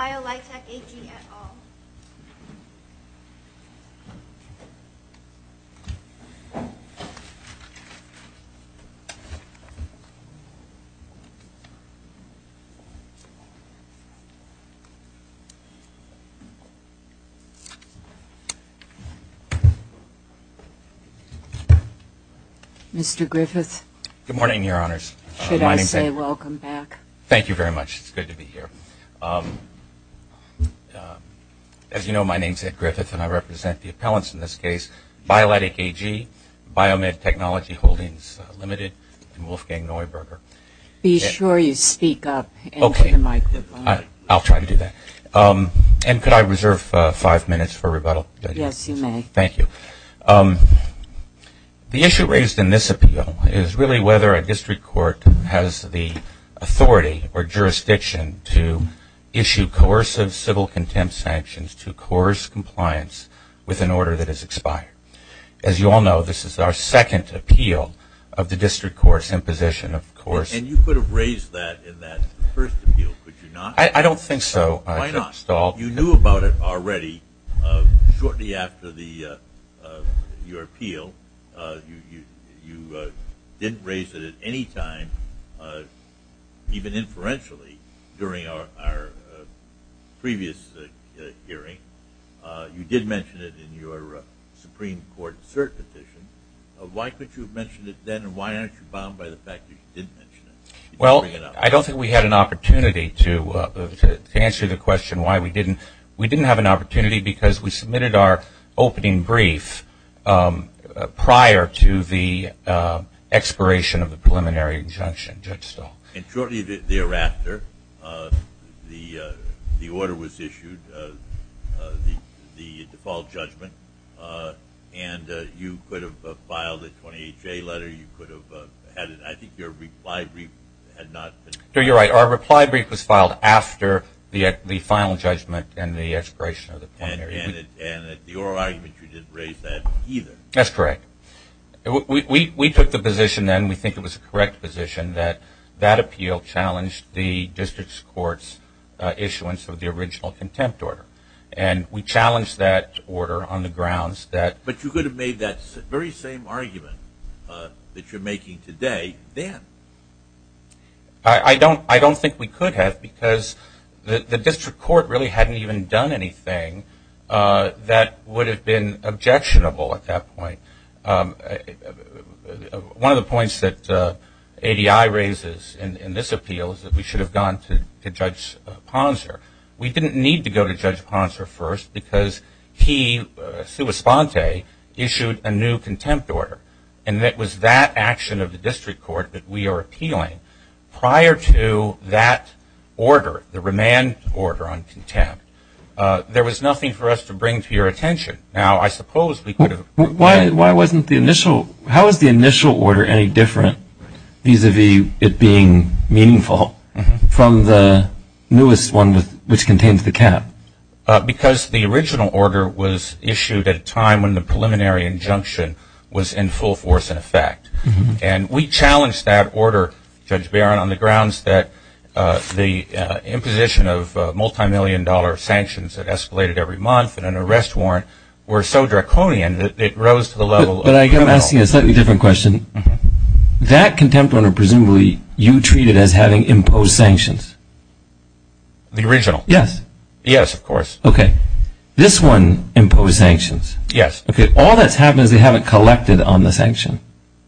Biolitec AG, et al. Mr. Griffith. Good morning, Your Honors. Should I say welcome back? Thank you very much. It's good to be here. As you know, my name is Ed Griffith, and I represent the appellants in this case. Biolitec AG, Biomed Technology Holdings Limited, and Wolfgang Neuberger. Be sure you speak up and to the microphone. I'll try to do that. And could I reserve five minutes for rebuttal? Yes, you may. Thank you. The issue raised in this appeal is really whether a district court has the authority or jurisdiction to issue coercive civil contempt sanctions to coerce compliance with an order that is expired. As you all know, this is our second appeal of the district court's imposition of coercion. And you could have raised that in that first appeal, could you not? I don't think so. Why not? You knew about it already shortly after your appeal. You didn't raise it at any time, even inferentially, during our previous hearing. You did mention it in your Supreme Court cert petition. Why couldn't you have mentioned it then, and why aren't you bound by the fact that you did mention it? Well, I don't think we had an opportunity to answer the question why we didn't. We didn't have an opportunity because we submitted our opening brief prior to the expiration of the preliminary injunction. And shortly thereafter, the order was issued, the default judgment, and you could have filed a 28-J letter. I think your reply brief had not been. You're right. Our reply brief was filed after the final judgment and the expiration of the preliminary. And at your argument, you didn't raise that either. That's correct. We took the position then, we think it was a correct position, that that appeal challenged the district court's issuance of the original contempt order. And we challenged that order on the grounds that. But you could have made that very same argument that you're making today then. I don't think we could have because the district court really hadn't even done anything that would have been objectionable at that point. One of the points that ADI raises in this appeal is that we should have gone to Judge Ponser. We didn't need to go to Judge Ponser first because he, Sua Sponte, issued a new contempt order. And it was that action of the district court that we are appealing. Prior to that order, the remand order on contempt, there was nothing for us to bring to your attention. Now, I suppose we could have. How is the initial order any different vis-à-vis it being meaningful from the newest one which contains the cap? Because the original order was issued at a time when the preliminary injunction was in full force in effect. And we challenged that order, Judge Barron, on the grounds that the imposition of multimillion dollar sanctions that escalated every month and an arrest warrant were so draconian that it rose to the level of criminal. But I'm asking a slightly different question. That contempt order presumably you treated as having imposed sanctions. The original? Yes. Yes, of course. Okay. This one imposed sanctions. Yes. Okay. All that's happened is they haven't collected on the sanction.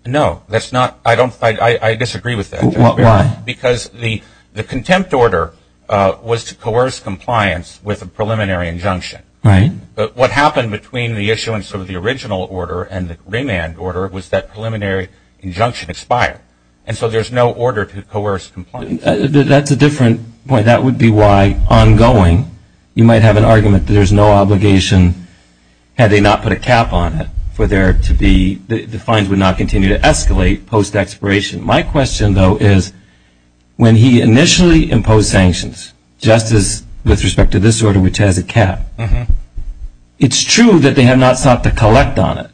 No, that's not. I disagree with that, Judge Barron. Why? Because the contempt order was to coerce compliance with a preliminary injunction. Right. But what happened between the issuance of the original order and the remand order was that preliminary injunction expired. And so there's no order to coerce compliance. That's a different point. That would be why ongoing you might have an argument that there's no obligation had they not put a cap on it for there to be the fines would not continue to escalate post-expiration. My question, though, is when he initially imposed sanctions, just as with respect to this order, which has a cap, it's true that they have not sought to collect on it.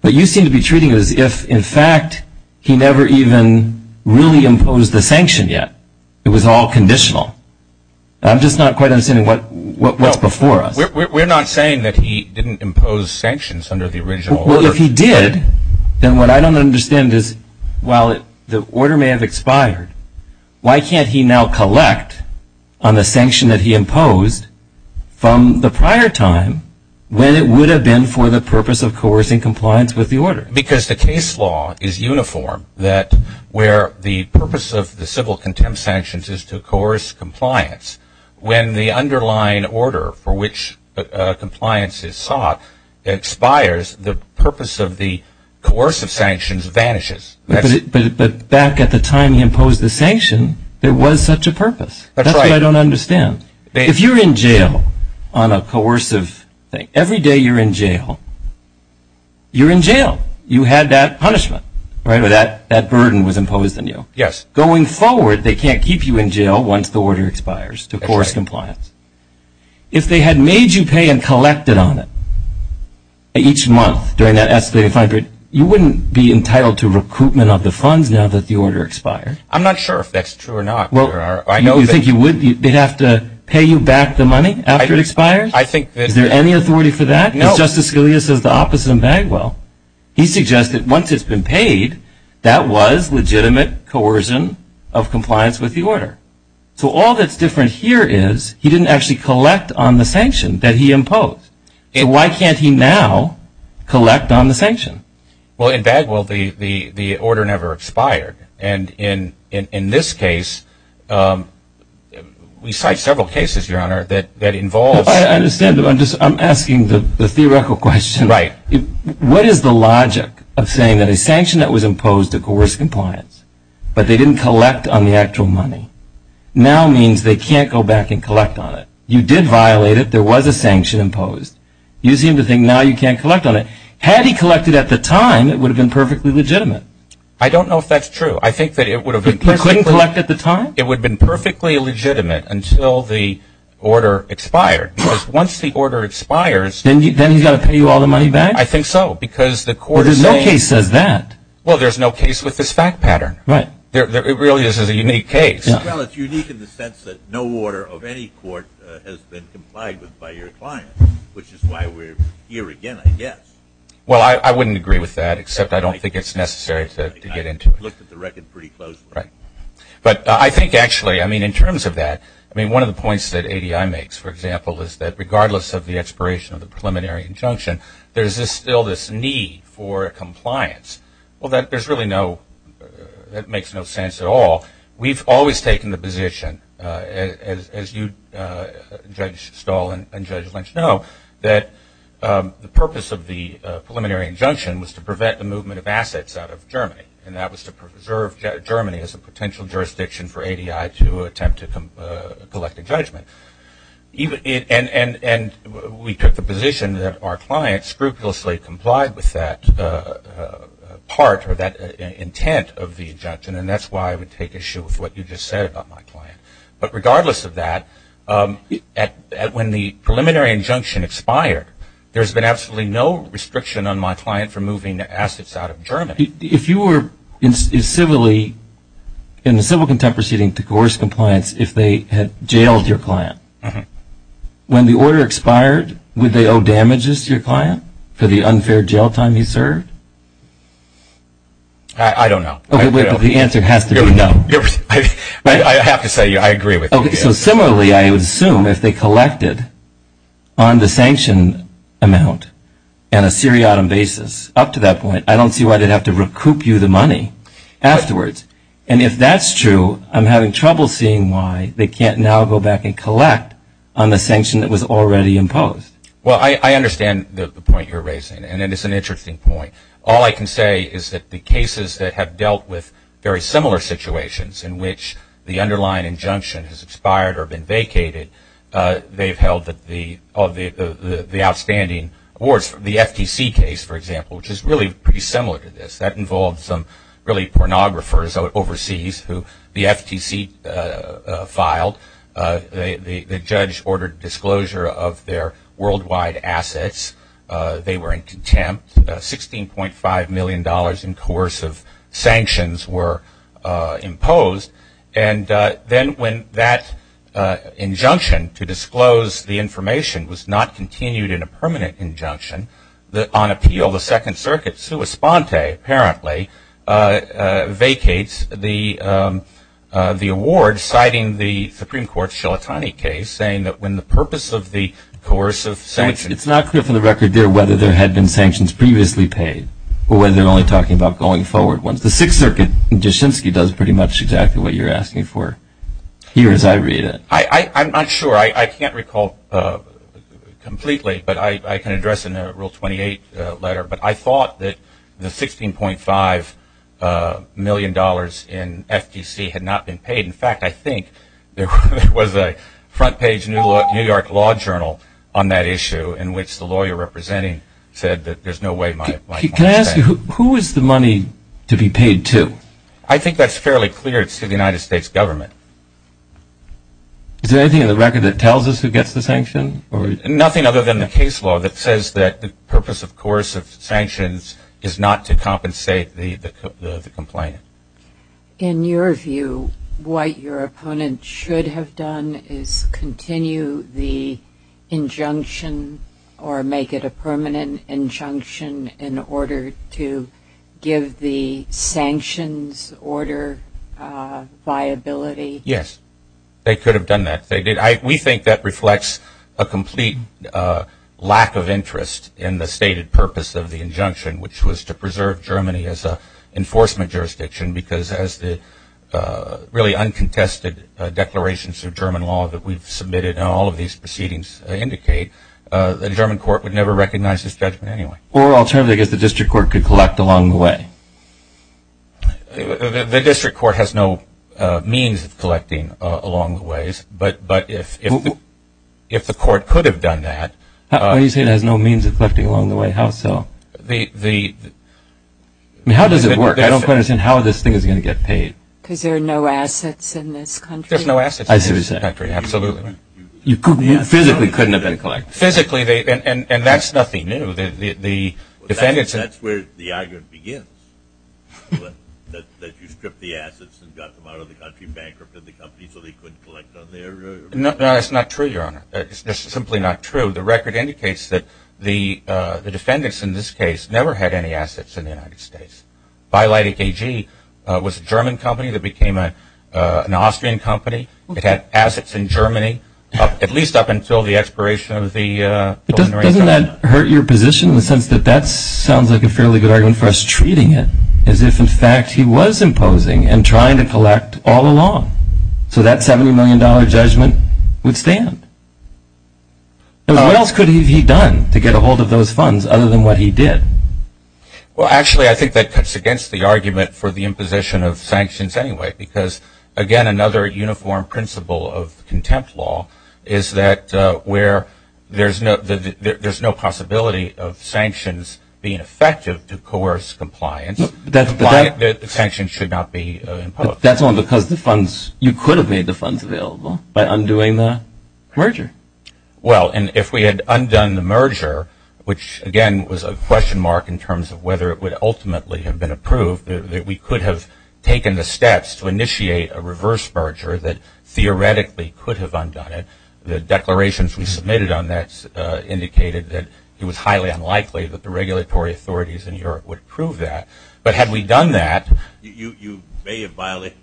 But you seem to be treating it as if, in fact, he never even really imposed the sanction yet. It was all conditional. I'm just not quite understanding what's before us. We're not saying that he didn't impose sanctions under the original order. Well, if he did, then what I don't understand is while the order may have expired, why can't he now collect on the sanction that he imposed from the prior time when it would have been for the purpose of coercing compliance with the order? Because the case law is uniform that where the purpose of the civil contempt sanctions is to coerce compliance. When the underlying order for which compliance is sought expires, the purpose of the coercive sanctions vanishes. But back at the time he imposed the sanction, there was such a purpose. That's right. That's what I don't understand. If you're in jail on a coercive thing, every day you're in jail, you're in jail. You had that punishment, right, where that burden was imposed on you. Yes. Going forward, they can't keep you in jail once the order expires to coerce compliance. If they had made you pay and collected on it each month during that escalated fine period, you wouldn't be entitled to recruitment of the funds now that the order expired. I'm not sure if that's true or not. Do you think they'd have to pay you back the money after it expires? Is there any authority for that? No. As Justice Scalia says, the opposite of Bagwell. He suggested once it's been paid, that was legitimate coercion of compliance with the order. So all that's different here is he didn't actually collect on the sanction that he imposed. So why can't he now collect on the sanction? Well, in Bagwell, the order never expired. And in this case, we cite several cases, Your Honor, that involves that. I understand. I'm asking the theoretical question. Right. What is the logic of saying that a sanction that was imposed to coerce compliance, but they didn't collect on the actual money, now means they can't go back and collect on it? You did violate it. There was a sanction imposed. You seem to think now you can't collect on it. Had he collected at the time, it would have been perfectly legitimate. I don't know if that's true. I think that it would have been perfectly legitimate. He couldn't collect at the time? It would have been perfectly legitimate until the order expired. Because once the order expires. Then he's got to pay you all the money back? I think so. Because the court is saying. Well, there's no case that says that. Well, there's no case with this fact pattern. Right. It really is a unique case. Well, it's unique in the sense that no order of any court has been complied with by your client, which is why we're here again, I guess. Well, I wouldn't agree with that, except I don't think it's necessary to get into it. I looked at the record pretty closely. Right. But I think actually, I mean, in terms of that, I mean, one of the points that ADI makes, for example, is that regardless of the expiration of the preliminary injunction, there's still this need for compliance. Well, that makes no sense at all. We've always taken the position, as Judge Stahl and Judge Lynch know, that the purpose of the preliminary injunction was to prevent the movement of assets out of Germany. And that was to preserve Germany as a potential jurisdiction for ADI to attempt to collect a judgment. And we took the position that our client scrupulously complied with that part or that intent of the injunction, and that's why I would take issue with what you just said about my client. But regardless of that, when the preliminary injunction expired, there's been absolutely no restriction on my client from moving assets out of Germany. If you were in a civil contempt proceeding to coerce compliance, if they had jailed your client, when the order expired, would they owe damages to your client for the unfair jail time he served? I don't know. Okay, but the answer has to be no. I have to say I agree with you. Okay, so similarly, I would assume if they collected on the sanction amount and a seriatim basis up to that point, I don't see why they'd have to recoup you the money afterwards. And if that's true, I'm having trouble seeing why they can't now go back and collect on the sanction that was already imposed. Well, I understand the point you're raising, and it is an interesting point. All I can say is that the cases that have dealt with very similar situations in which the underlying injunction has expired or been vacated, they've held the outstanding awards. The FTC case, for example, which is really pretty similar to this. That involved some really pornographers overseas who the FTC filed. The judge ordered disclosure of their worldwide assets. They were in contempt. $16.5 million in coercive sanctions were imposed. And then when that injunction to disclose the information was not continued in a permanent injunction, on appeal, the Second Circuit, sua sponte, apparently, vacates the award, citing the Supreme Court's Shilatani case, saying that when the purpose of the coercive sanctions ---- It's not clear from the record there whether there had been sanctions previously paid or whether they're only talking about going forward ones. The Sixth Circuit, Jaschinski does pretty much exactly what you're asking for here as I read it. I'm not sure. I can't recall completely, but I can address it in a Rule 28 letter. But I thought that the $16.5 million in FTC had not been paid. In fact, I think there was a front page New York Law Journal on that issue in which the lawyer representing said that there's no way my money was paid. Can I ask you, who is the money to be paid to? I think that's fairly clear. It's to the United States government. Is there anything in the record that tells us who gets the sanction? Nothing other than the case law that says that the purpose of coercive sanctions is not to compensate the complainant. In your view, what your opponent should have done is continue the injunction or make it a permanent injunction in order to give the sanctions order viability? Yes, they could have done that. We think that reflects a complete lack of interest in the stated purpose of the injunction, which was to preserve Germany as an enforcement jurisdiction because as the really uncontested declarations of German law that we've submitted and all of these proceedings indicate, the German court would never recognize this judgment anyway. Or alternatively, I guess the district court could collect along the way. The district court has no means of collecting along the ways, but if the court could have done that. What do you say it has no means of collecting along the way? How so? How does it work? I don't quite understand how this thing is going to get paid. Because there are no assets in this country. There's no assets in this country, absolutely. You physically couldn't have been collected. Physically, and that's nothing new. That's where the argument begins, that you stripped the assets and got them out of the country, bankrupted the company so they couldn't collect on their own. No, that's not true, Your Honor. That's simply not true. The record indicates that the defendants in this case never had any assets in the United States. Beileit AG was a German company that became an Austrian company. It had assets in Germany, at least up until the expiration of the Golden Ratio Act. Doesn't that hurt your position in the sense that that sounds like a fairly good argument for us treating it, as if in fact he was imposing and trying to collect all along, so that $70 million judgment would stand? What else could he have done to get a hold of those funds other than what he did? Well, actually, I think that cuts against the argument for the imposition of sanctions anyway. Because, again, another uniform principle of contempt law is that where there's no possibility of sanctions being effective to coerce compliance, the sanctions should not be imposed. That's only because the funds, you could have made the funds available by undoing the merger. Well, and if we had undone the merger, which, again, was a question mark in terms of whether it would ultimately have been approved, that we could have taken the steps to initiate a reverse merger that theoretically could have undone it. The declarations we submitted on that indicated that it was highly unlikely that the regulatory authorities in Europe would approve that. But had we done that... You may have violated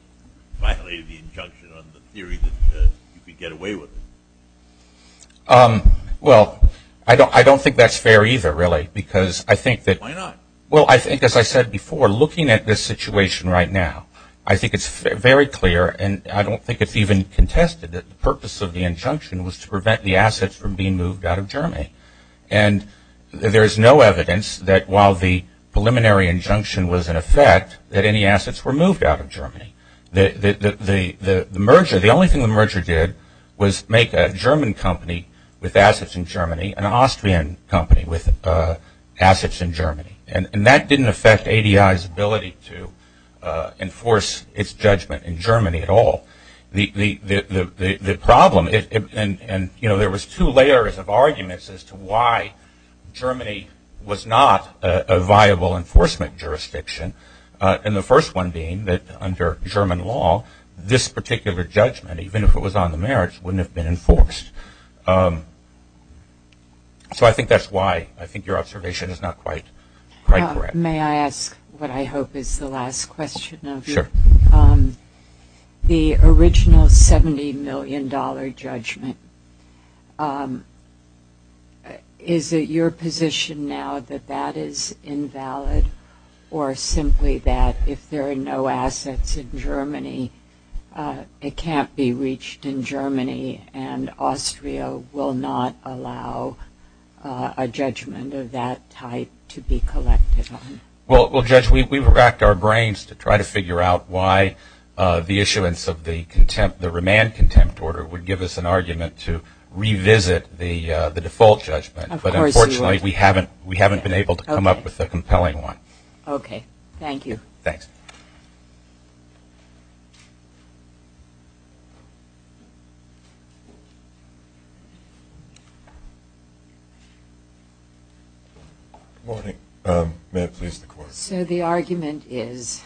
the injunction on the theory that you could get away with it. Well, I don't think that's fair either, really, because I think that... Why not? Well, I think, as I said before, looking at this situation right now, I think it's very clear, and I don't think it's even contested that the purpose of the injunction was to prevent the assets from being moved out of Germany. And there is no evidence that, while the preliminary injunction was in effect, that any assets were moved out of Germany. The merger, the only thing the merger did was make a German company with assets in Germany an Austrian company with assets in Germany. And that didn't affect ADI's ability to enforce its judgment in Germany at all. The problem, and there was two layers of arguments as to why Germany was not a viable enforcement jurisdiction, and the first one being that under German law, this particular judgment, even if it was on the merits, wouldn't have been enforced. So I think that's why I think your observation is not quite correct. May I ask what I hope is the last question of you? Sure. The original $70 million judgment, is it your position now that that is invalid or simply that if there are no assets in Germany, it can't be reached in Germany and Austria will not allow a judgment of that type to be collected on? Well, Judge, we racked our brains to try to figure out why the issuance of the remand contempt order would give us an argument to revisit the default judgment, but unfortunately we haven't been able to come up with a compelling one. Okay. Thank you. Thanks. Good morning. May I please have the floor? So the argument is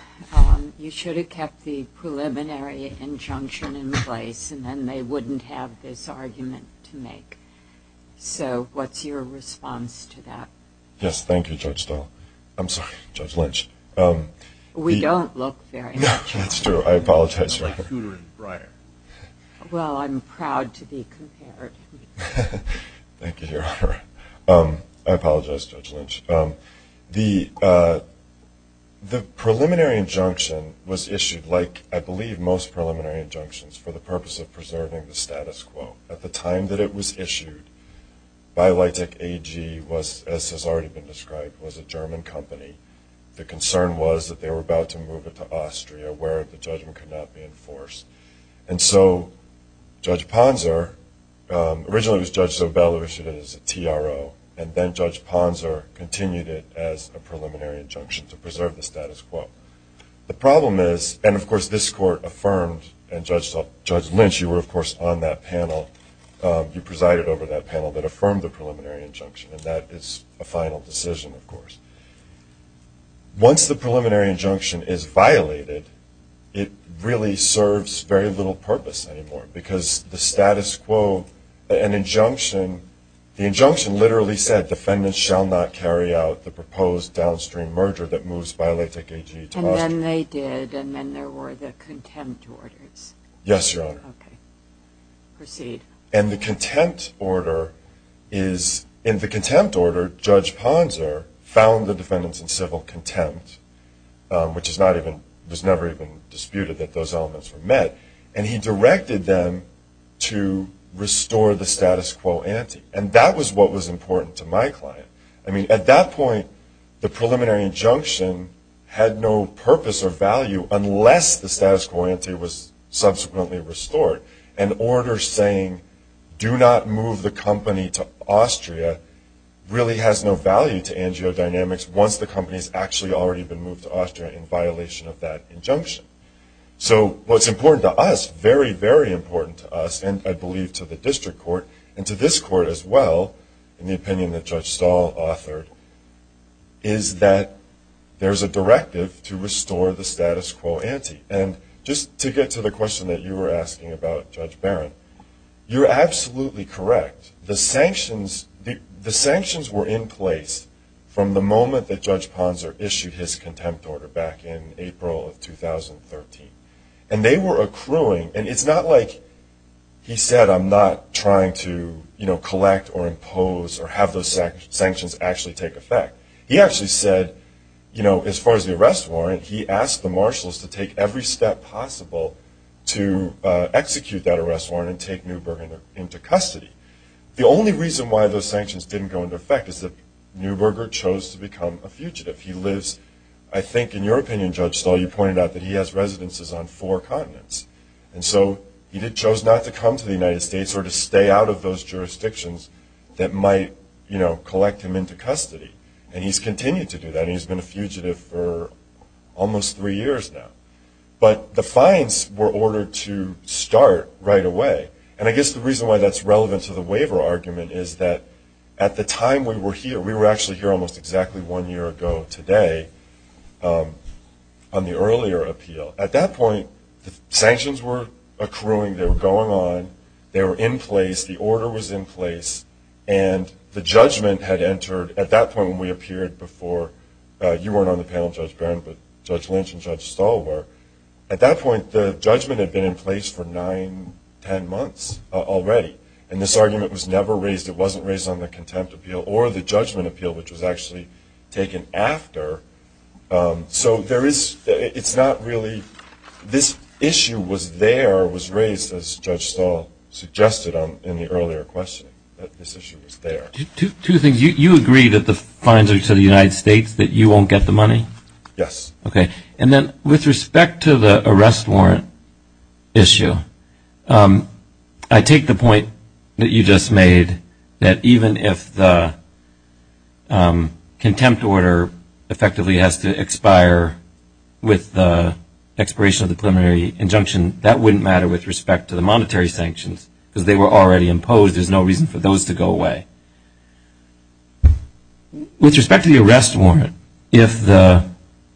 you should have kept the preliminary injunction in place and then they wouldn't have this argument to make. So what's your response to that? Yes, thank you, Judge Dahl. I'm sorry, Judge Lynch. We don't look very much alike. No, that's true. I apologize. Well, I'm proud to be compared. Thank you, Your Honor. I apologize, Judge Lynch. The preliminary injunction was issued, like I believe most preliminary injunctions, for the purpose of preserving the status quo. At the time that it was issued, BioLitech AG, as has already been described, was a German company. The concern was that they were about to move it to Austria, where the judgment could not be enforced. And so Judge Ponzer, originally it was Judge Sobel who issued it as a TRO, and then Judge Ponzer continued it as a preliminary injunction to preserve the status quo. The problem is, and of course this Court affirmed, and Judge Lynch, you were of course on that panel, you presided over that panel that affirmed the preliminary injunction, and that is a final decision, of course. Once the preliminary injunction is violated, it really serves very little purpose anymore because the status quo, an injunction, the injunction literally said, defendants shall not carry out the proposed downstream merger that moves BioLitech AG to Austria. And then they did, and then there were the contempt orders. Yes, Your Honor. Okay. Proceed. And the contempt order is, in the contempt order, Judge Ponzer found the defendants in civil contempt, which was never even disputed that those elements were met, and he directed them to restore the status quo ante. And that was what was important to my client. I mean, at that point, the preliminary injunction had no purpose or value unless the status quo ante was subsequently restored. An order saying do not move the company to Austria really has no value to AngioDynamics once the company has actually already been moved to Austria in violation of that injunction. So what's important to us, very, very important to us, and I believe to the district court and to this court as well, in the opinion that Judge Stahl authored, is that there's a directive to restore the status quo ante. And just to get to the question that you were asking about, Judge Barron, you're absolutely correct. The sanctions were in place from the moment that Judge Ponzer issued his contempt order back in April of 2013. And they were accruing, and it's not like he said, I'm not trying to collect or impose or have those sanctions actually take effect. He actually said, you know, as far as the arrest warrant, he asked the marshals to take every step possible to execute that arrest warrant and take Neuberger into custody. The only reason why those sanctions didn't go into effect is that Neuberger chose to become a fugitive. He lives, I think in your opinion, Judge Stahl, you pointed out that he has residences on four continents. And so he chose not to come to the United States or to stay out of those jurisdictions that might, you know, collect him into custody. And he's continued to do that. He's been a fugitive for almost three years now. But the fines were ordered to start right away. And I guess the reason why that's relevant to the waiver argument is that at the time we were here, we were actually here almost exactly one year ago today on the earlier appeal. At that point, the sanctions were accruing. They were going on. They were in place. The order was in place. And the judgment had entered at that point when we appeared before. You weren't on the panel, Judge Barron, but Judge Lynch and Judge Stahl were. At that point, the judgment had been in place for nine, ten months already. And this argument was never raised. It wasn't raised on the contempt appeal or the judgment appeal, which was actually taken after. So it's not really this issue was there or was raised, as Judge Stahl suggested in the earlier question, that this issue was there. Two things. You agree that the fines are to the United States, that you won't get the money? Yes. Okay. And then with respect to the arrest warrant issue, I take the point that you just made, that even if the contempt order effectively has to expire with the expiration of the preliminary injunction, that wouldn't matter with respect to the monetary sanctions because they were already imposed. There's no reason for those to go away. With respect to the arrest warrant, if the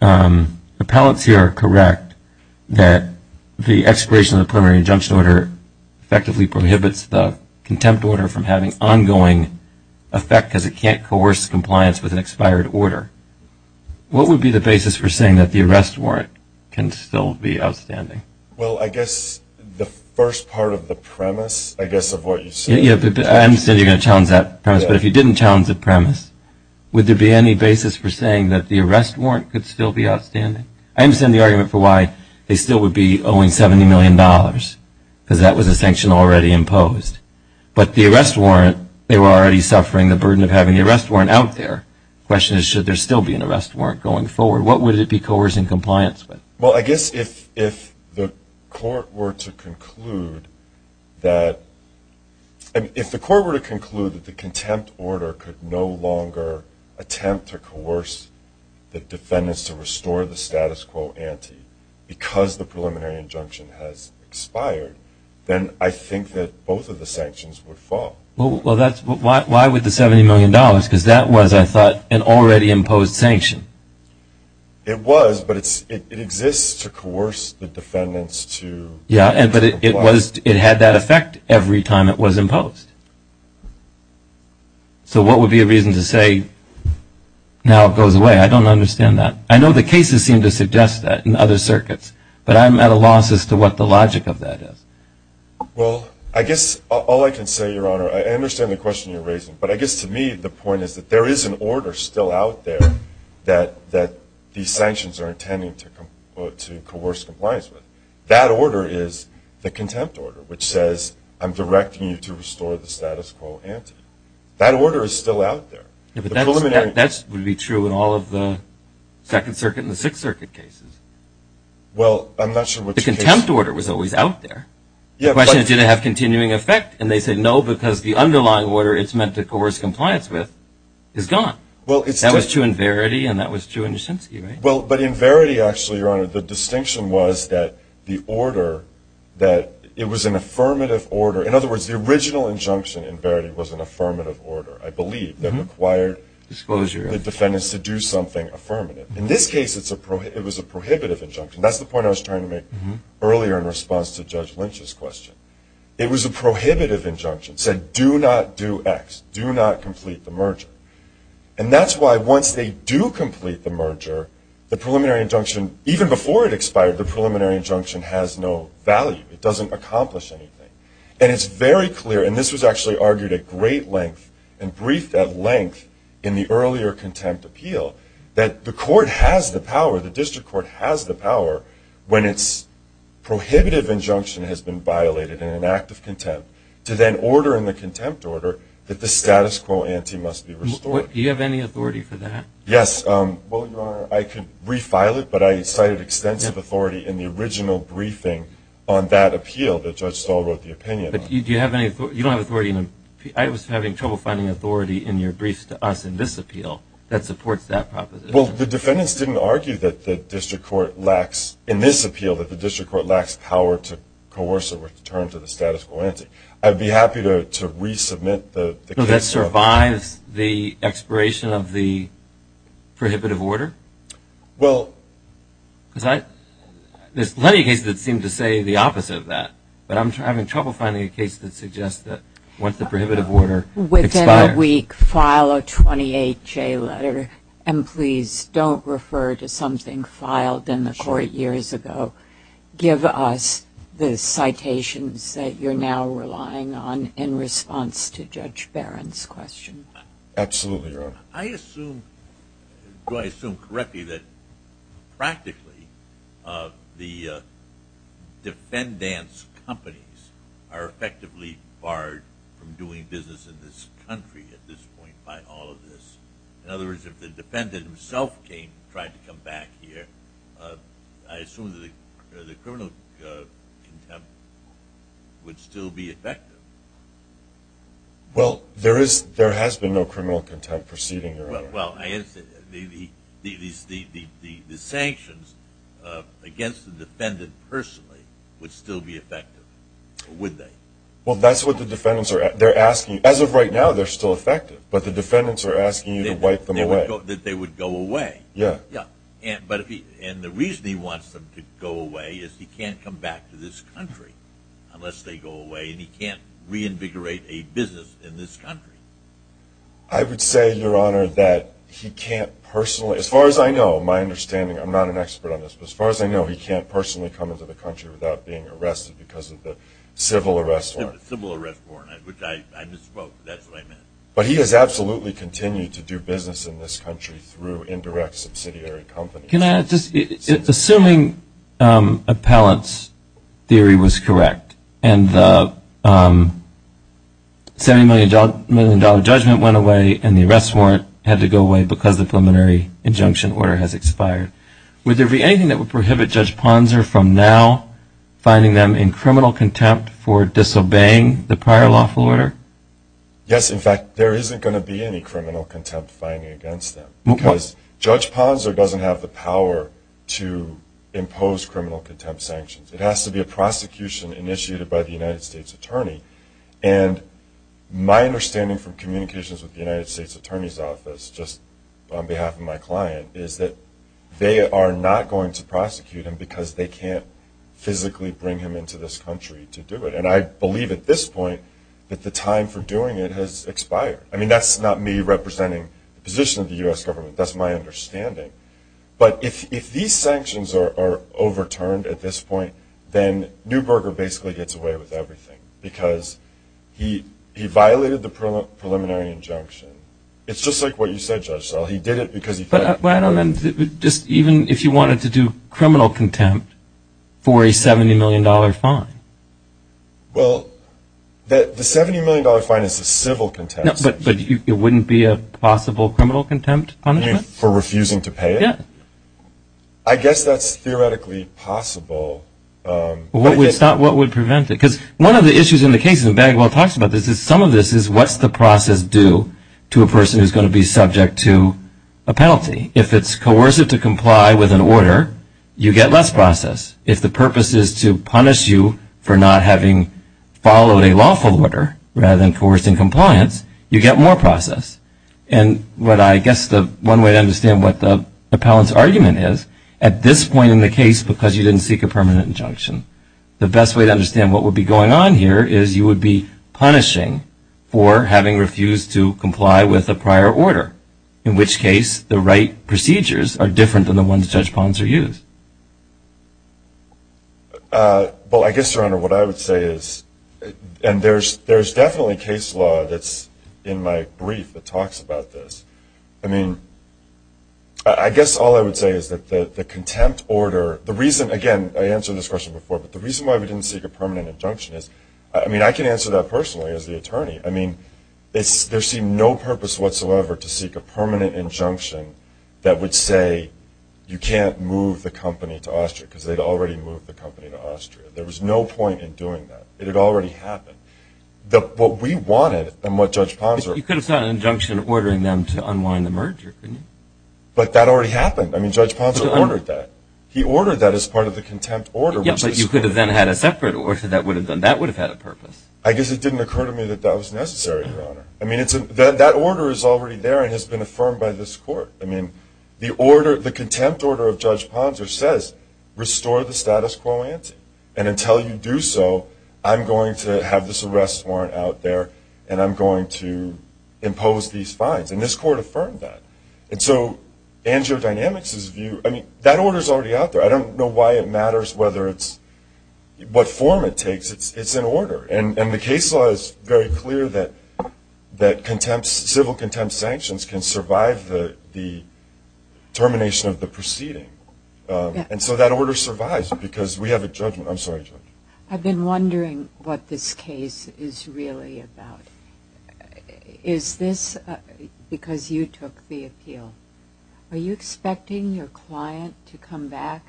appellants here are correct that the expiration of the preliminary injunction order effectively prohibits the contempt order from having ongoing effect because it can't coerce compliance with an expired order, what would be the basis for saying that the arrest warrant can still be outstanding? Well, I guess the first part of the premise, I guess, of what you said. I understand you're going to challenge that premise, but if you didn't challenge the premise, would there be any basis for saying that the arrest warrant could still be outstanding? I understand the argument for why they still would be owing $70 million because that was a sanction already imposed. But the arrest warrant, they were already suffering the burden of having the arrest warrant out there. The question is, should there still be an arrest warrant going forward? What would it be coercing compliance with? Well, I guess if the court were to conclude that the contempt order could no longer attempt to coerce the defendants to restore the status quo ante because the preliminary injunction has expired, then I think that both of the sanctions would fall. Well, why would the $70 million? Because that was, I thought, an already imposed sanction. It was, but it exists to coerce the defendants to comply. Yeah, but it had that effect every time it was imposed. So what would be a reason to say now it goes away? I don't understand that. I know the cases seem to suggest that in other circuits, but I'm at a loss as to what the logic of that is. Well, I guess all I can say, Your Honor, I understand the question you're raising, but I guess to me the point is that there is an order still out there that these sanctions are intending to coerce compliance with. That order is the contempt order, which says I'm directing you to restore the status quo ante. That order is still out there. Yeah, but that would be true in all of the Second Circuit and the Sixth Circuit cases. Well, I'm not sure which cases. The contempt order was always out there. The question is did it have continuing effect, and they said no because the underlying order it's meant to coerce compliance with is gone. That was true in Verity, and that was true in Nishinsky, right? Well, but in Verity, actually, Your Honor, the distinction was that the order, that it was an affirmative order. In other words, the original injunction in Verity was an affirmative order, I believe, that required the defendants to do something affirmative. In this case, it was a prohibitive injunction. That's the point I was trying to make earlier in response to Judge Lynch's question. It was a prohibitive injunction. It said do not do X, do not complete the merger. And that's why once they do complete the merger, the preliminary injunction, even before it expired, the preliminary injunction has no value. It doesn't accomplish anything. And it's very clear, and this was actually argued at great length and briefed at length in the earlier contempt appeal, that the court has the power, the district court has the power when its prohibitive injunction has been violated in an act of contempt to then order in the contempt order that the status quo ante must be restored. Do you have any authority for that? Yes. Well, Your Honor, I could refile it, but I cited extensive authority in the original briefing on that appeal that Judge Stahl wrote the opinion on. Do you have any authority? You don't have authority? I was having trouble finding authority in your briefs to us in this appeal that supports that proposition. Well, the defendants didn't argue that the district court lacks, in this appeal, that the district court lacks power to coerce a return to the status quo ante. I'd be happy to resubmit the case. So that survives the expiration of the prohibitive order? Well, there's plenty of cases that seem to say the opposite of that, but I'm having trouble finding a case that suggests that once the prohibitive order expires. Within a week, file a 28-J letter, and please don't refer to something filed in the court years ago. Give us the citations that you're now relying on in response to Judge Barron's question. Absolutely, Your Honor. I assume, do I assume correctly that practically the defendants' companies are effectively barred from doing business in this country at this point by all of this? In other words, if the defendant himself tried to come back here, I assume that the criminal contempt would still be effective. Well, there has been no criminal contempt proceeding, Your Honor. Well, the sanctions against the defendant personally would still be effective, would they? Well, that's what the defendants are asking. As of right now, they're still effective, but the defendants are asking you to wipe them away. That they would go away. Yeah. And the reason he wants them to go away is he can't come back to this country unless they go away, and he can't reinvigorate a business in this country. I would say, Your Honor, that he can't personally, as far as I know, my understanding, I'm not an expert on this, but as far as I know, he can't personally come into the country without being arrested because of the civil arrest warrant. Civil arrest warrant, which I misspoke. That's what I meant. But he has absolutely continued to do business in this country through indirect subsidiary companies. Assuming appellant's theory was correct, and the $70 million judgment went away and the arrest warrant had to go away because the preliminary injunction order has expired, would there be anything that would prohibit Judge Ponzer from now finding them in criminal contempt for disobeying the prior lawful order? Yes, in fact, there isn't going to be any criminal contempt finding against them. Because Judge Ponzer doesn't have the power to impose criminal contempt sanctions. It has to be a prosecution initiated by the United States Attorney. And my understanding from communications with the United States Attorney's Office, just on behalf of my client, is that they are not going to prosecute him because they can't physically bring him into this country to do it. And I believe at this point that the time for doing it has expired. I mean, that's not me representing the position of the U.S. government. That's my understanding. But if these sanctions are overturned at this point, then Neuberger basically gets away with everything because he violated the preliminary injunction. It's just like what you said, Judge Sell. He did it because he felt it. But even if you wanted to do criminal contempt for a $70 million fine? Well, the $70 million fine is a civil contempt. But it wouldn't be a possible criminal contempt punishment? You mean for refusing to pay it? Yeah. I guess that's theoretically possible. But it's not what would prevent it. Because one of the issues in the case, and Bagwell talks about this, is some of this is what's the process due to a person who's going to be subject to a penalty? If it's coercive to comply with an order, you get less process. If the purpose is to punish you for not having followed a lawful order, rather than coercing compliance, you get more process. And what I guess the one way to understand what the appellant's argument is, at this point in the case, because you didn't seek a permanent injunction, the best way to understand what would be going on here is you would be punishing for having refused to comply with a prior order, in which case the right procedures are different than the ones Judge Ponser used. Well, I guess, Your Honor, what I would say is, and there's definitely case law that's in my brief that talks about this. I mean, I guess all I would say is that the contempt order, the reason, again, I answered this question before, but the reason why we didn't seek a permanent injunction is, I mean, I can answer that personally as the attorney. I mean, there seemed no purpose whatsoever to seek a permanent injunction that would say, you can't move the company to Austria, because they'd already moved the company to Austria. There was no point in doing that. It had already happened. What we wanted, and what Judge Ponser – You could have sought an injunction ordering them to unwind the merger, couldn't you? But that already happened. I mean, Judge Ponser ordered that. He ordered that as part of the contempt order. Yes, but you could have then had a separate order that would have done that. That would have had a purpose. I guess it didn't occur to me that that was necessary, Your Honor. I mean, that order is already there and has been affirmed by this court. I mean, the contempt order of Judge Ponser says, restore the status quo ante, and until you do so, I'm going to have this arrest warrant out there, and I'm going to impose these fines. And this court affirmed that. And so Angio Dynamics' view – I mean, that order is already out there. I don't know why it matters whether it's – what form it takes. It's an order. And the case law is very clear that contempt – civil contempt sanctions can survive the termination of the proceeding. And so that order survives because we have a judgment – I'm sorry, Judge. I've been wondering what this case is really about. Is this because you took the appeal? Are you expecting your client to come back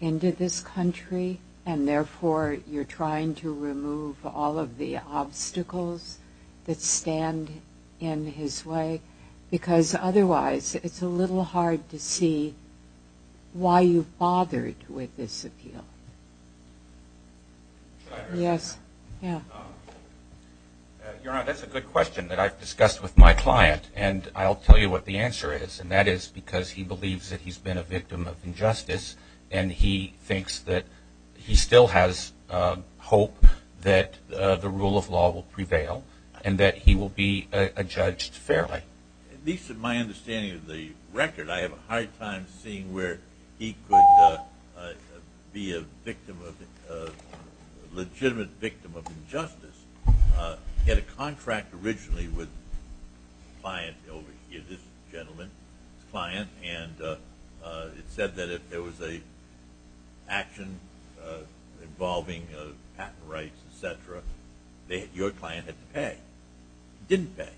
into this country and, therefore, you're trying to remove all of the obstacles that stand in his way? Because, otherwise, it's a little hard to see why you bothered with this appeal. Yes. Your Honor, that's a good question that I've discussed with my client, and I'll tell you what the answer is, and that is because he believes that he's been a victim of injustice and he thinks that he still has hope that the rule of law will prevail and that he will be judged fairly. At least in my understanding of the record, I have a hard time seeing where he could be a victim of – a legitimate victim of injustice. He had a contract originally with a client over here, this gentleman's client, and it said that if there was an action involving patent rights, et cetera, your client had to pay. He didn't pay.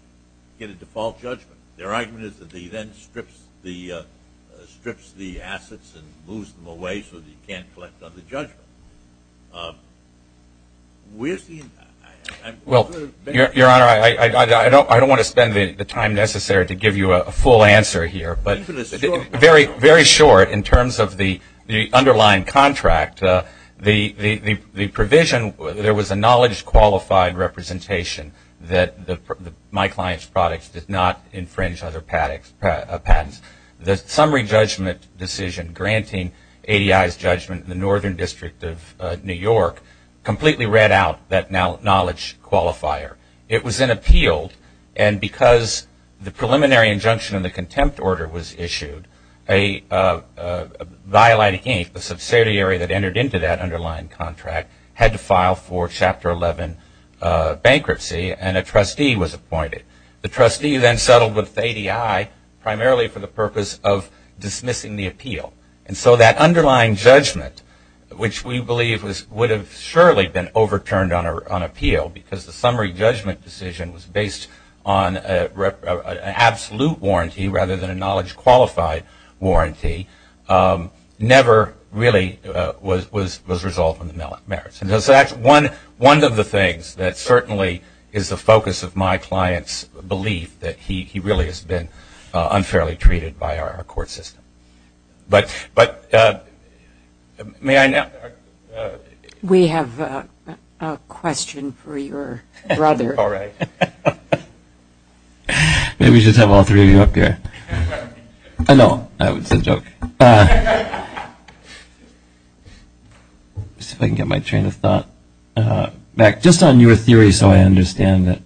He had a default judgment. Their argument is that he then strips the assets and moves them away so that he can't collect another judgment. Where's the impact? Your Honor, I don't want to spend the time necessary to give you a full answer here. Very short in terms of the underlying contract. The provision, there was a knowledge-qualified representation that my client's products did not infringe other patents. The summary judgment decision granting ADI's judgment in the Northern District of New York completely read out that knowledge qualifier. It was then appealed, and because the preliminary injunction in the contempt order was issued, Violating Ink, the subsidiary that entered into that underlying contract, had to file for Chapter 11 bankruptcy, and a trustee was appointed. The trustee then settled with ADI primarily for the purpose of dismissing the appeal. And so that underlying judgment, which we believe would have surely been overturned on appeal because the summary judgment decision was based on an absolute warranty rather than a knowledge-qualified warranty, never really was resolved on the merits. And so that's one of the things that certainly is the focus of my client's belief that he really has been unfairly treated by our court system. But may I now? We have a question for your brother. All right. Maybe we should have all three of you up here. No, that was a joke. Let's see if I can get my train of thought. Mac, just on your theory so I understand it,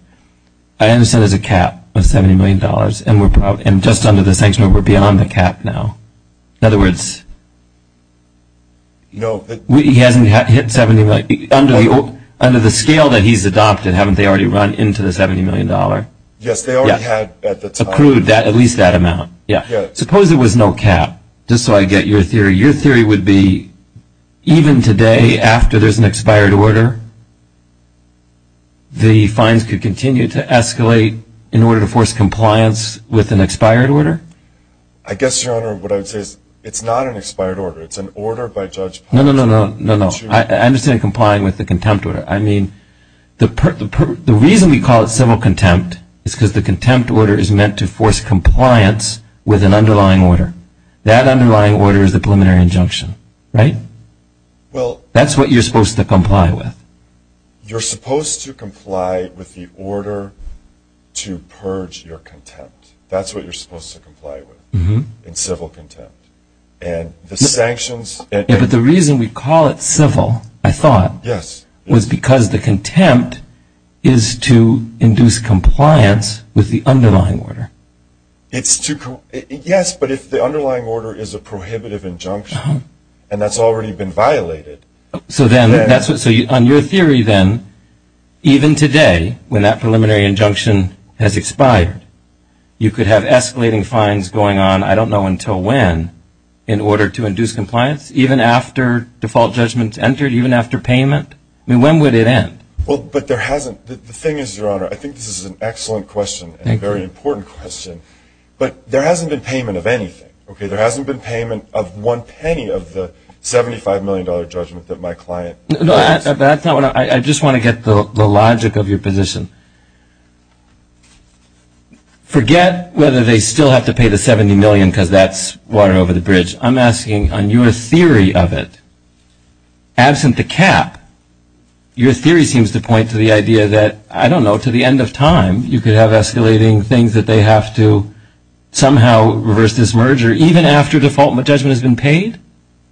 I understand there's a cap of $70 million, and just under the sanction we're beyond the cap now. In other words, he hasn't hit $70 million. Under the scale that he's adopted, haven't they already run into the $70 million? Yes, they already had at the time. Accrued at least that amount. Suppose there was no cap, just so I get your theory. Your theory would be even today after there's an expired order, the fines could continue to escalate in order to force compliance with an expired order? I guess, Your Honor, what I would say is it's not an expired order. It's an order by Judge Patterson. No, no, no, no, no, no. I understand complying with the contempt order. I mean, the reason we call it civil contempt is because the contempt order is meant to force compliance with an underlying order. That underlying order is the preliminary injunction, right? That's what you're supposed to comply with. You're supposed to comply with the order to purge your contempt. That's what you're supposed to comply with in civil contempt. But the reason we call it civil, I thought, was because the contempt is to induce compliance with the underlying order. Yes, but if the underlying order is a prohibitive injunction, and that's already been violated. So on your theory then, even today, when that preliminary injunction has expired, you could have escalating fines going on, I don't know until when, in order to induce compliance, even after default judgments entered, even after payment? I mean, when would it end? Well, but there hasn't. The thing is, Your Honor, I think this is an excellent question and a very important question, but there hasn't been payment of anything, okay? There hasn't been payment of one penny of the $75 million judgment that my client has. No, that's not what I'm, I just want to get the logic of your position. Forget whether they still have to pay the $70 million because that's water over the bridge. I'm asking on your theory of it, absent the cap, your theory seems to point to the idea that, I don't know, to the end of time, you could have escalating things that they have to somehow reverse this merger, even after default judgment has been paid?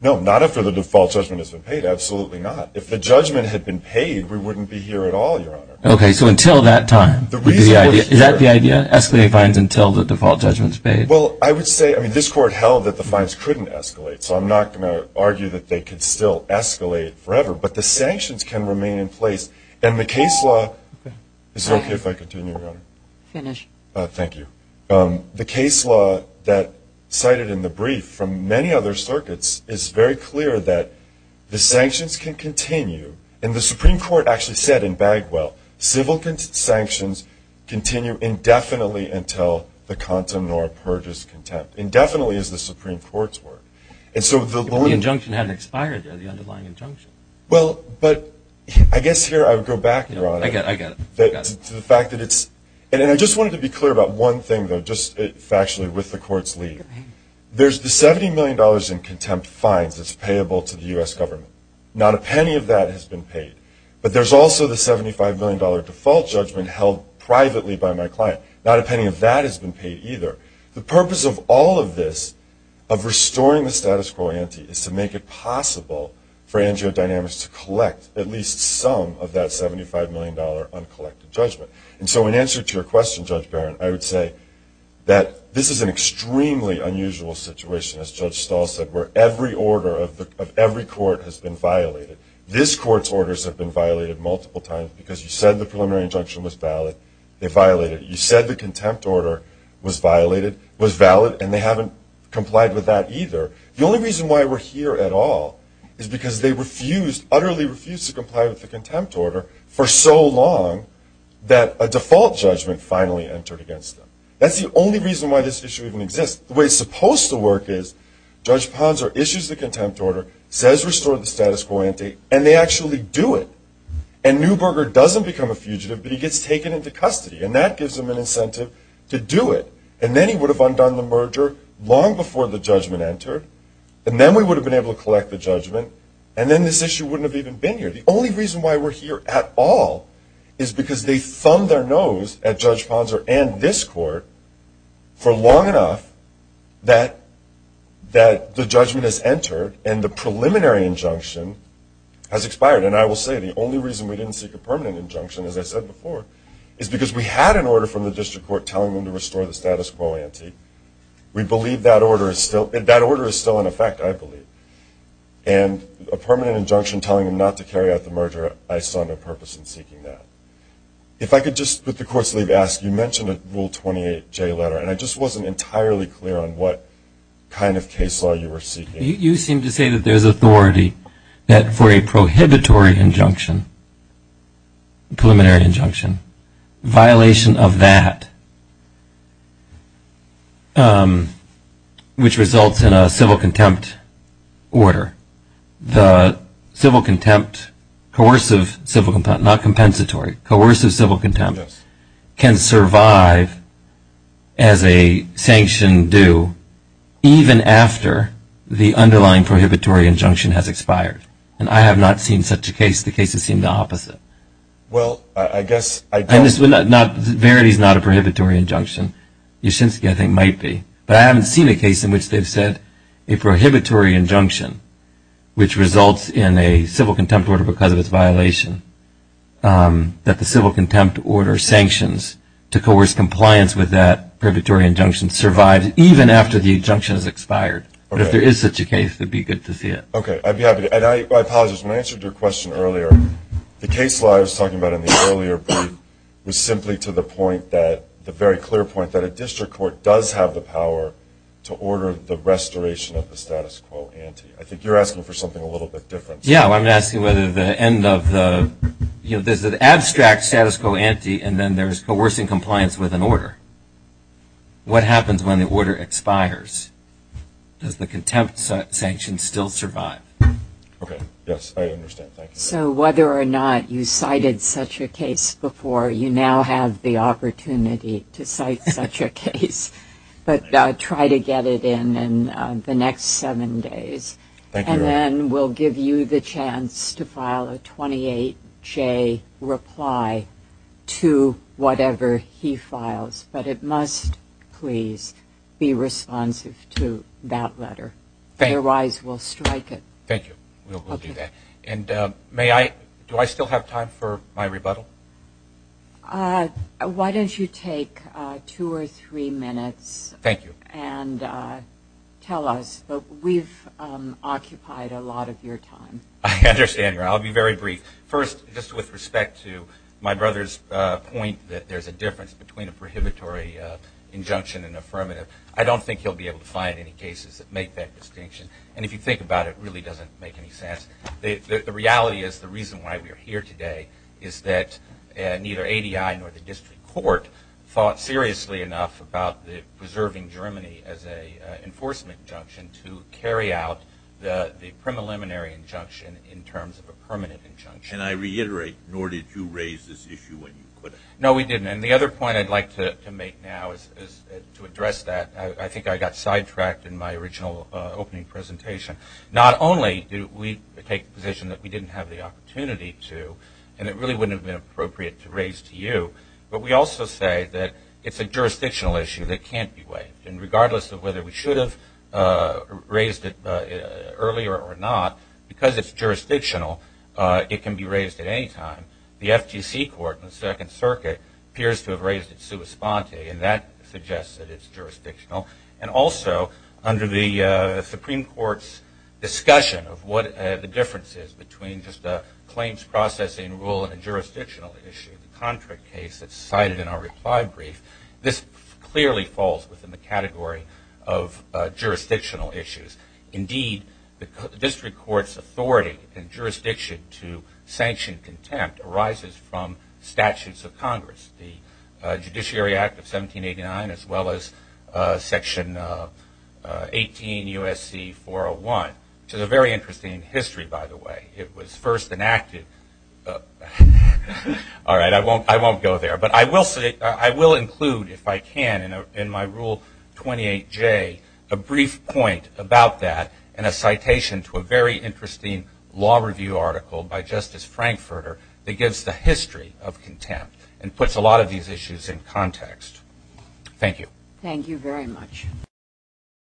No, not after the default judgment has been paid, absolutely not. If the judgment had been paid, we wouldn't be here at all, Your Honor. Okay, so until that time would be the idea. Is that the idea, escalating fines until the default judgment is paid? Well, I would say, I mean, this Court held that the fines couldn't escalate, so I'm not going to argue that they could still escalate forever, but the sanctions can remain in place, and the case law, is it okay if I continue, Your Honor? Finish. Thank you. The case law that cited in the brief from many other circuits is very clear that the sanctions can continue, and the Supreme Court actually said in Bagwell, civil sanctions continue indefinitely until the content nor purges contempt, indefinitely as the Supreme Court's word. But the injunction hadn't expired, though, the underlying injunction. Well, but I guess here I would go back, Your Honor. I get it, I get it. To the fact that it's, and I just wanted to be clear about one thing, though, just factually with the Court's lead. There's the $70 million in contempt fines that's payable to the U.S. government. Not a penny of that has been paid. But there's also the $75 million default judgment held privately by my client. Not a penny of that has been paid either. The purpose of all of this, of restoring the status quo ante, is to make it possible for Angio Dynamics to collect at least some of that $75 million uncollected judgment. And so in answer to your question, Judge Barron, I would say that this is an extremely unusual situation, as Judge Stahl said, where every order of every court has been violated. This Court's orders have been violated multiple times because you said the preliminary injunction was valid. They violated it. You said the contempt order was violated, was valid, and they haven't complied with that either. The only reason why we're here at all is because they refused, utterly refused to comply with the contempt order for so long that a default judgment finally entered against them. That's the only reason why this issue even exists. The way it's supposed to work is Judge Ponzer issues the contempt order, says restore the status quo ante, and they actually do it. And Neuberger doesn't become a fugitive, but he gets taken into custody. And that gives him an incentive to do it. And then he would have undone the merger long before the judgment entered, and then we would have been able to collect the judgment, and then this issue wouldn't have even been here. The only reason why we're here at all is because they thumbed their nose at Judge Ponzer and this Court for long enough that the judgment has entered and the preliminary injunction has expired. And I will say the only reason we didn't seek a permanent injunction, as I said before, is because we had an order from the District Court telling them to restore the status quo ante. We believe that order is still in effect, I believe. And a permanent injunction telling them not to carry out the merger, I saw no purpose in seeking that. If I could just, with the Court's leave, ask, you mentioned a Rule 28J letter, and I just wasn't entirely clear on what kind of case law you were seeking. You seem to say that there's authority that for a prohibitory injunction, preliminary injunction, violation of that which results in a civil contempt order. The civil contempt, coercive civil contempt, not compensatory, coercive civil contempt, can survive as a sanction due even after the underlying prohibitory injunction has expired. And I have not seen such a case. The cases seem the opposite. Well, I guess I don't – Verity is not a prohibitory injunction. Yashinsky, I think, might be. But I haven't seen a case in which they've said a prohibitory injunction, which results in a civil contempt order because of its violation, that the civil contempt order sanctions to coerce compliance with that prohibitory injunction survives even after the injunction has expired. But if there is such a case, it would be good to see it. Okay, I'd be happy to. And I apologize. When I answered your question earlier, the case law I was talking about in the earlier part was simply to the point that, the very clear point, that a district court does have the power to order the restoration of the status quo ante. I think you're asking for something a little bit different. Yeah, I'm asking whether the end of the – there's an abstract status quo ante and then there's coercing compliance with an order. What happens when the order expires? Does the contempt sanction still survive? Okay, yes, I understand. So whether or not you cited such a case before, you now have the opportunity to cite such a case. But try to get it in in the next seven days. Thank you. And then we'll give you the chance to file a 28-J reply to whatever he files. But it must, please, be responsive to that letter. Otherwise, we'll strike it. Thank you. We'll do that. And may I – do I still have time for my rebuttal? Why don't you take two or three minutes. Thank you. And tell us. We've occupied a lot of your time. I understand. I'll be very brief. First, just with respect to my brother's point that there's a difference between a prohibitory injunction and affirmative, I don't think he'll be able to find any cases that make that distinction. And if you think about it, it really doesn't make any sense. The reality is the reason why we are here today is that neither ADI nor the district court thought seriously enough about preserving Germany as an enforcement injunction to carry out the preliminary injunction in terms of a permanent injunction. And I reiterate, nor did you raise this issue when you could have. No, we didn't. And the other point I'd like to make now is to address that. I think I got sidetracked in my original opening presentation. Not only do we take the position that we didn't have the opportunity to, and it really wouldn't have been appropriate to raise to you, but we also say that it's a jurisdictional issue that can't be waived. And regardless of whether we should have raised it earlier or not, because it's jurisdictional, it can be raised at any time. The FTC court in the Second Circuit appears to have raised it sua sponte, and that suggests that it's jurisdictional. And also, under the Supreme Court's discussion of what the difference is between just a claims processing rule and jurisdictional issue, the contract case that's cited in our reply brief, this clearly falls within the category of jurisdictional issues. Indeed, the district court's authority and jurisdiction to sanction contempt arises from statutes of Congress, the Judiciary Act of 1789 as well as Section 18 USC 401, which is a very interesting history, by the way. It was first enacted. All right, I won't go there. But I will include, if I can, in my Rule 28J, a brief point about that and a citation to a very interesting law review article by Justice Frankfurter that gives the history of contempt and puts a lot of these issues in context. Thank you. Thank you very much.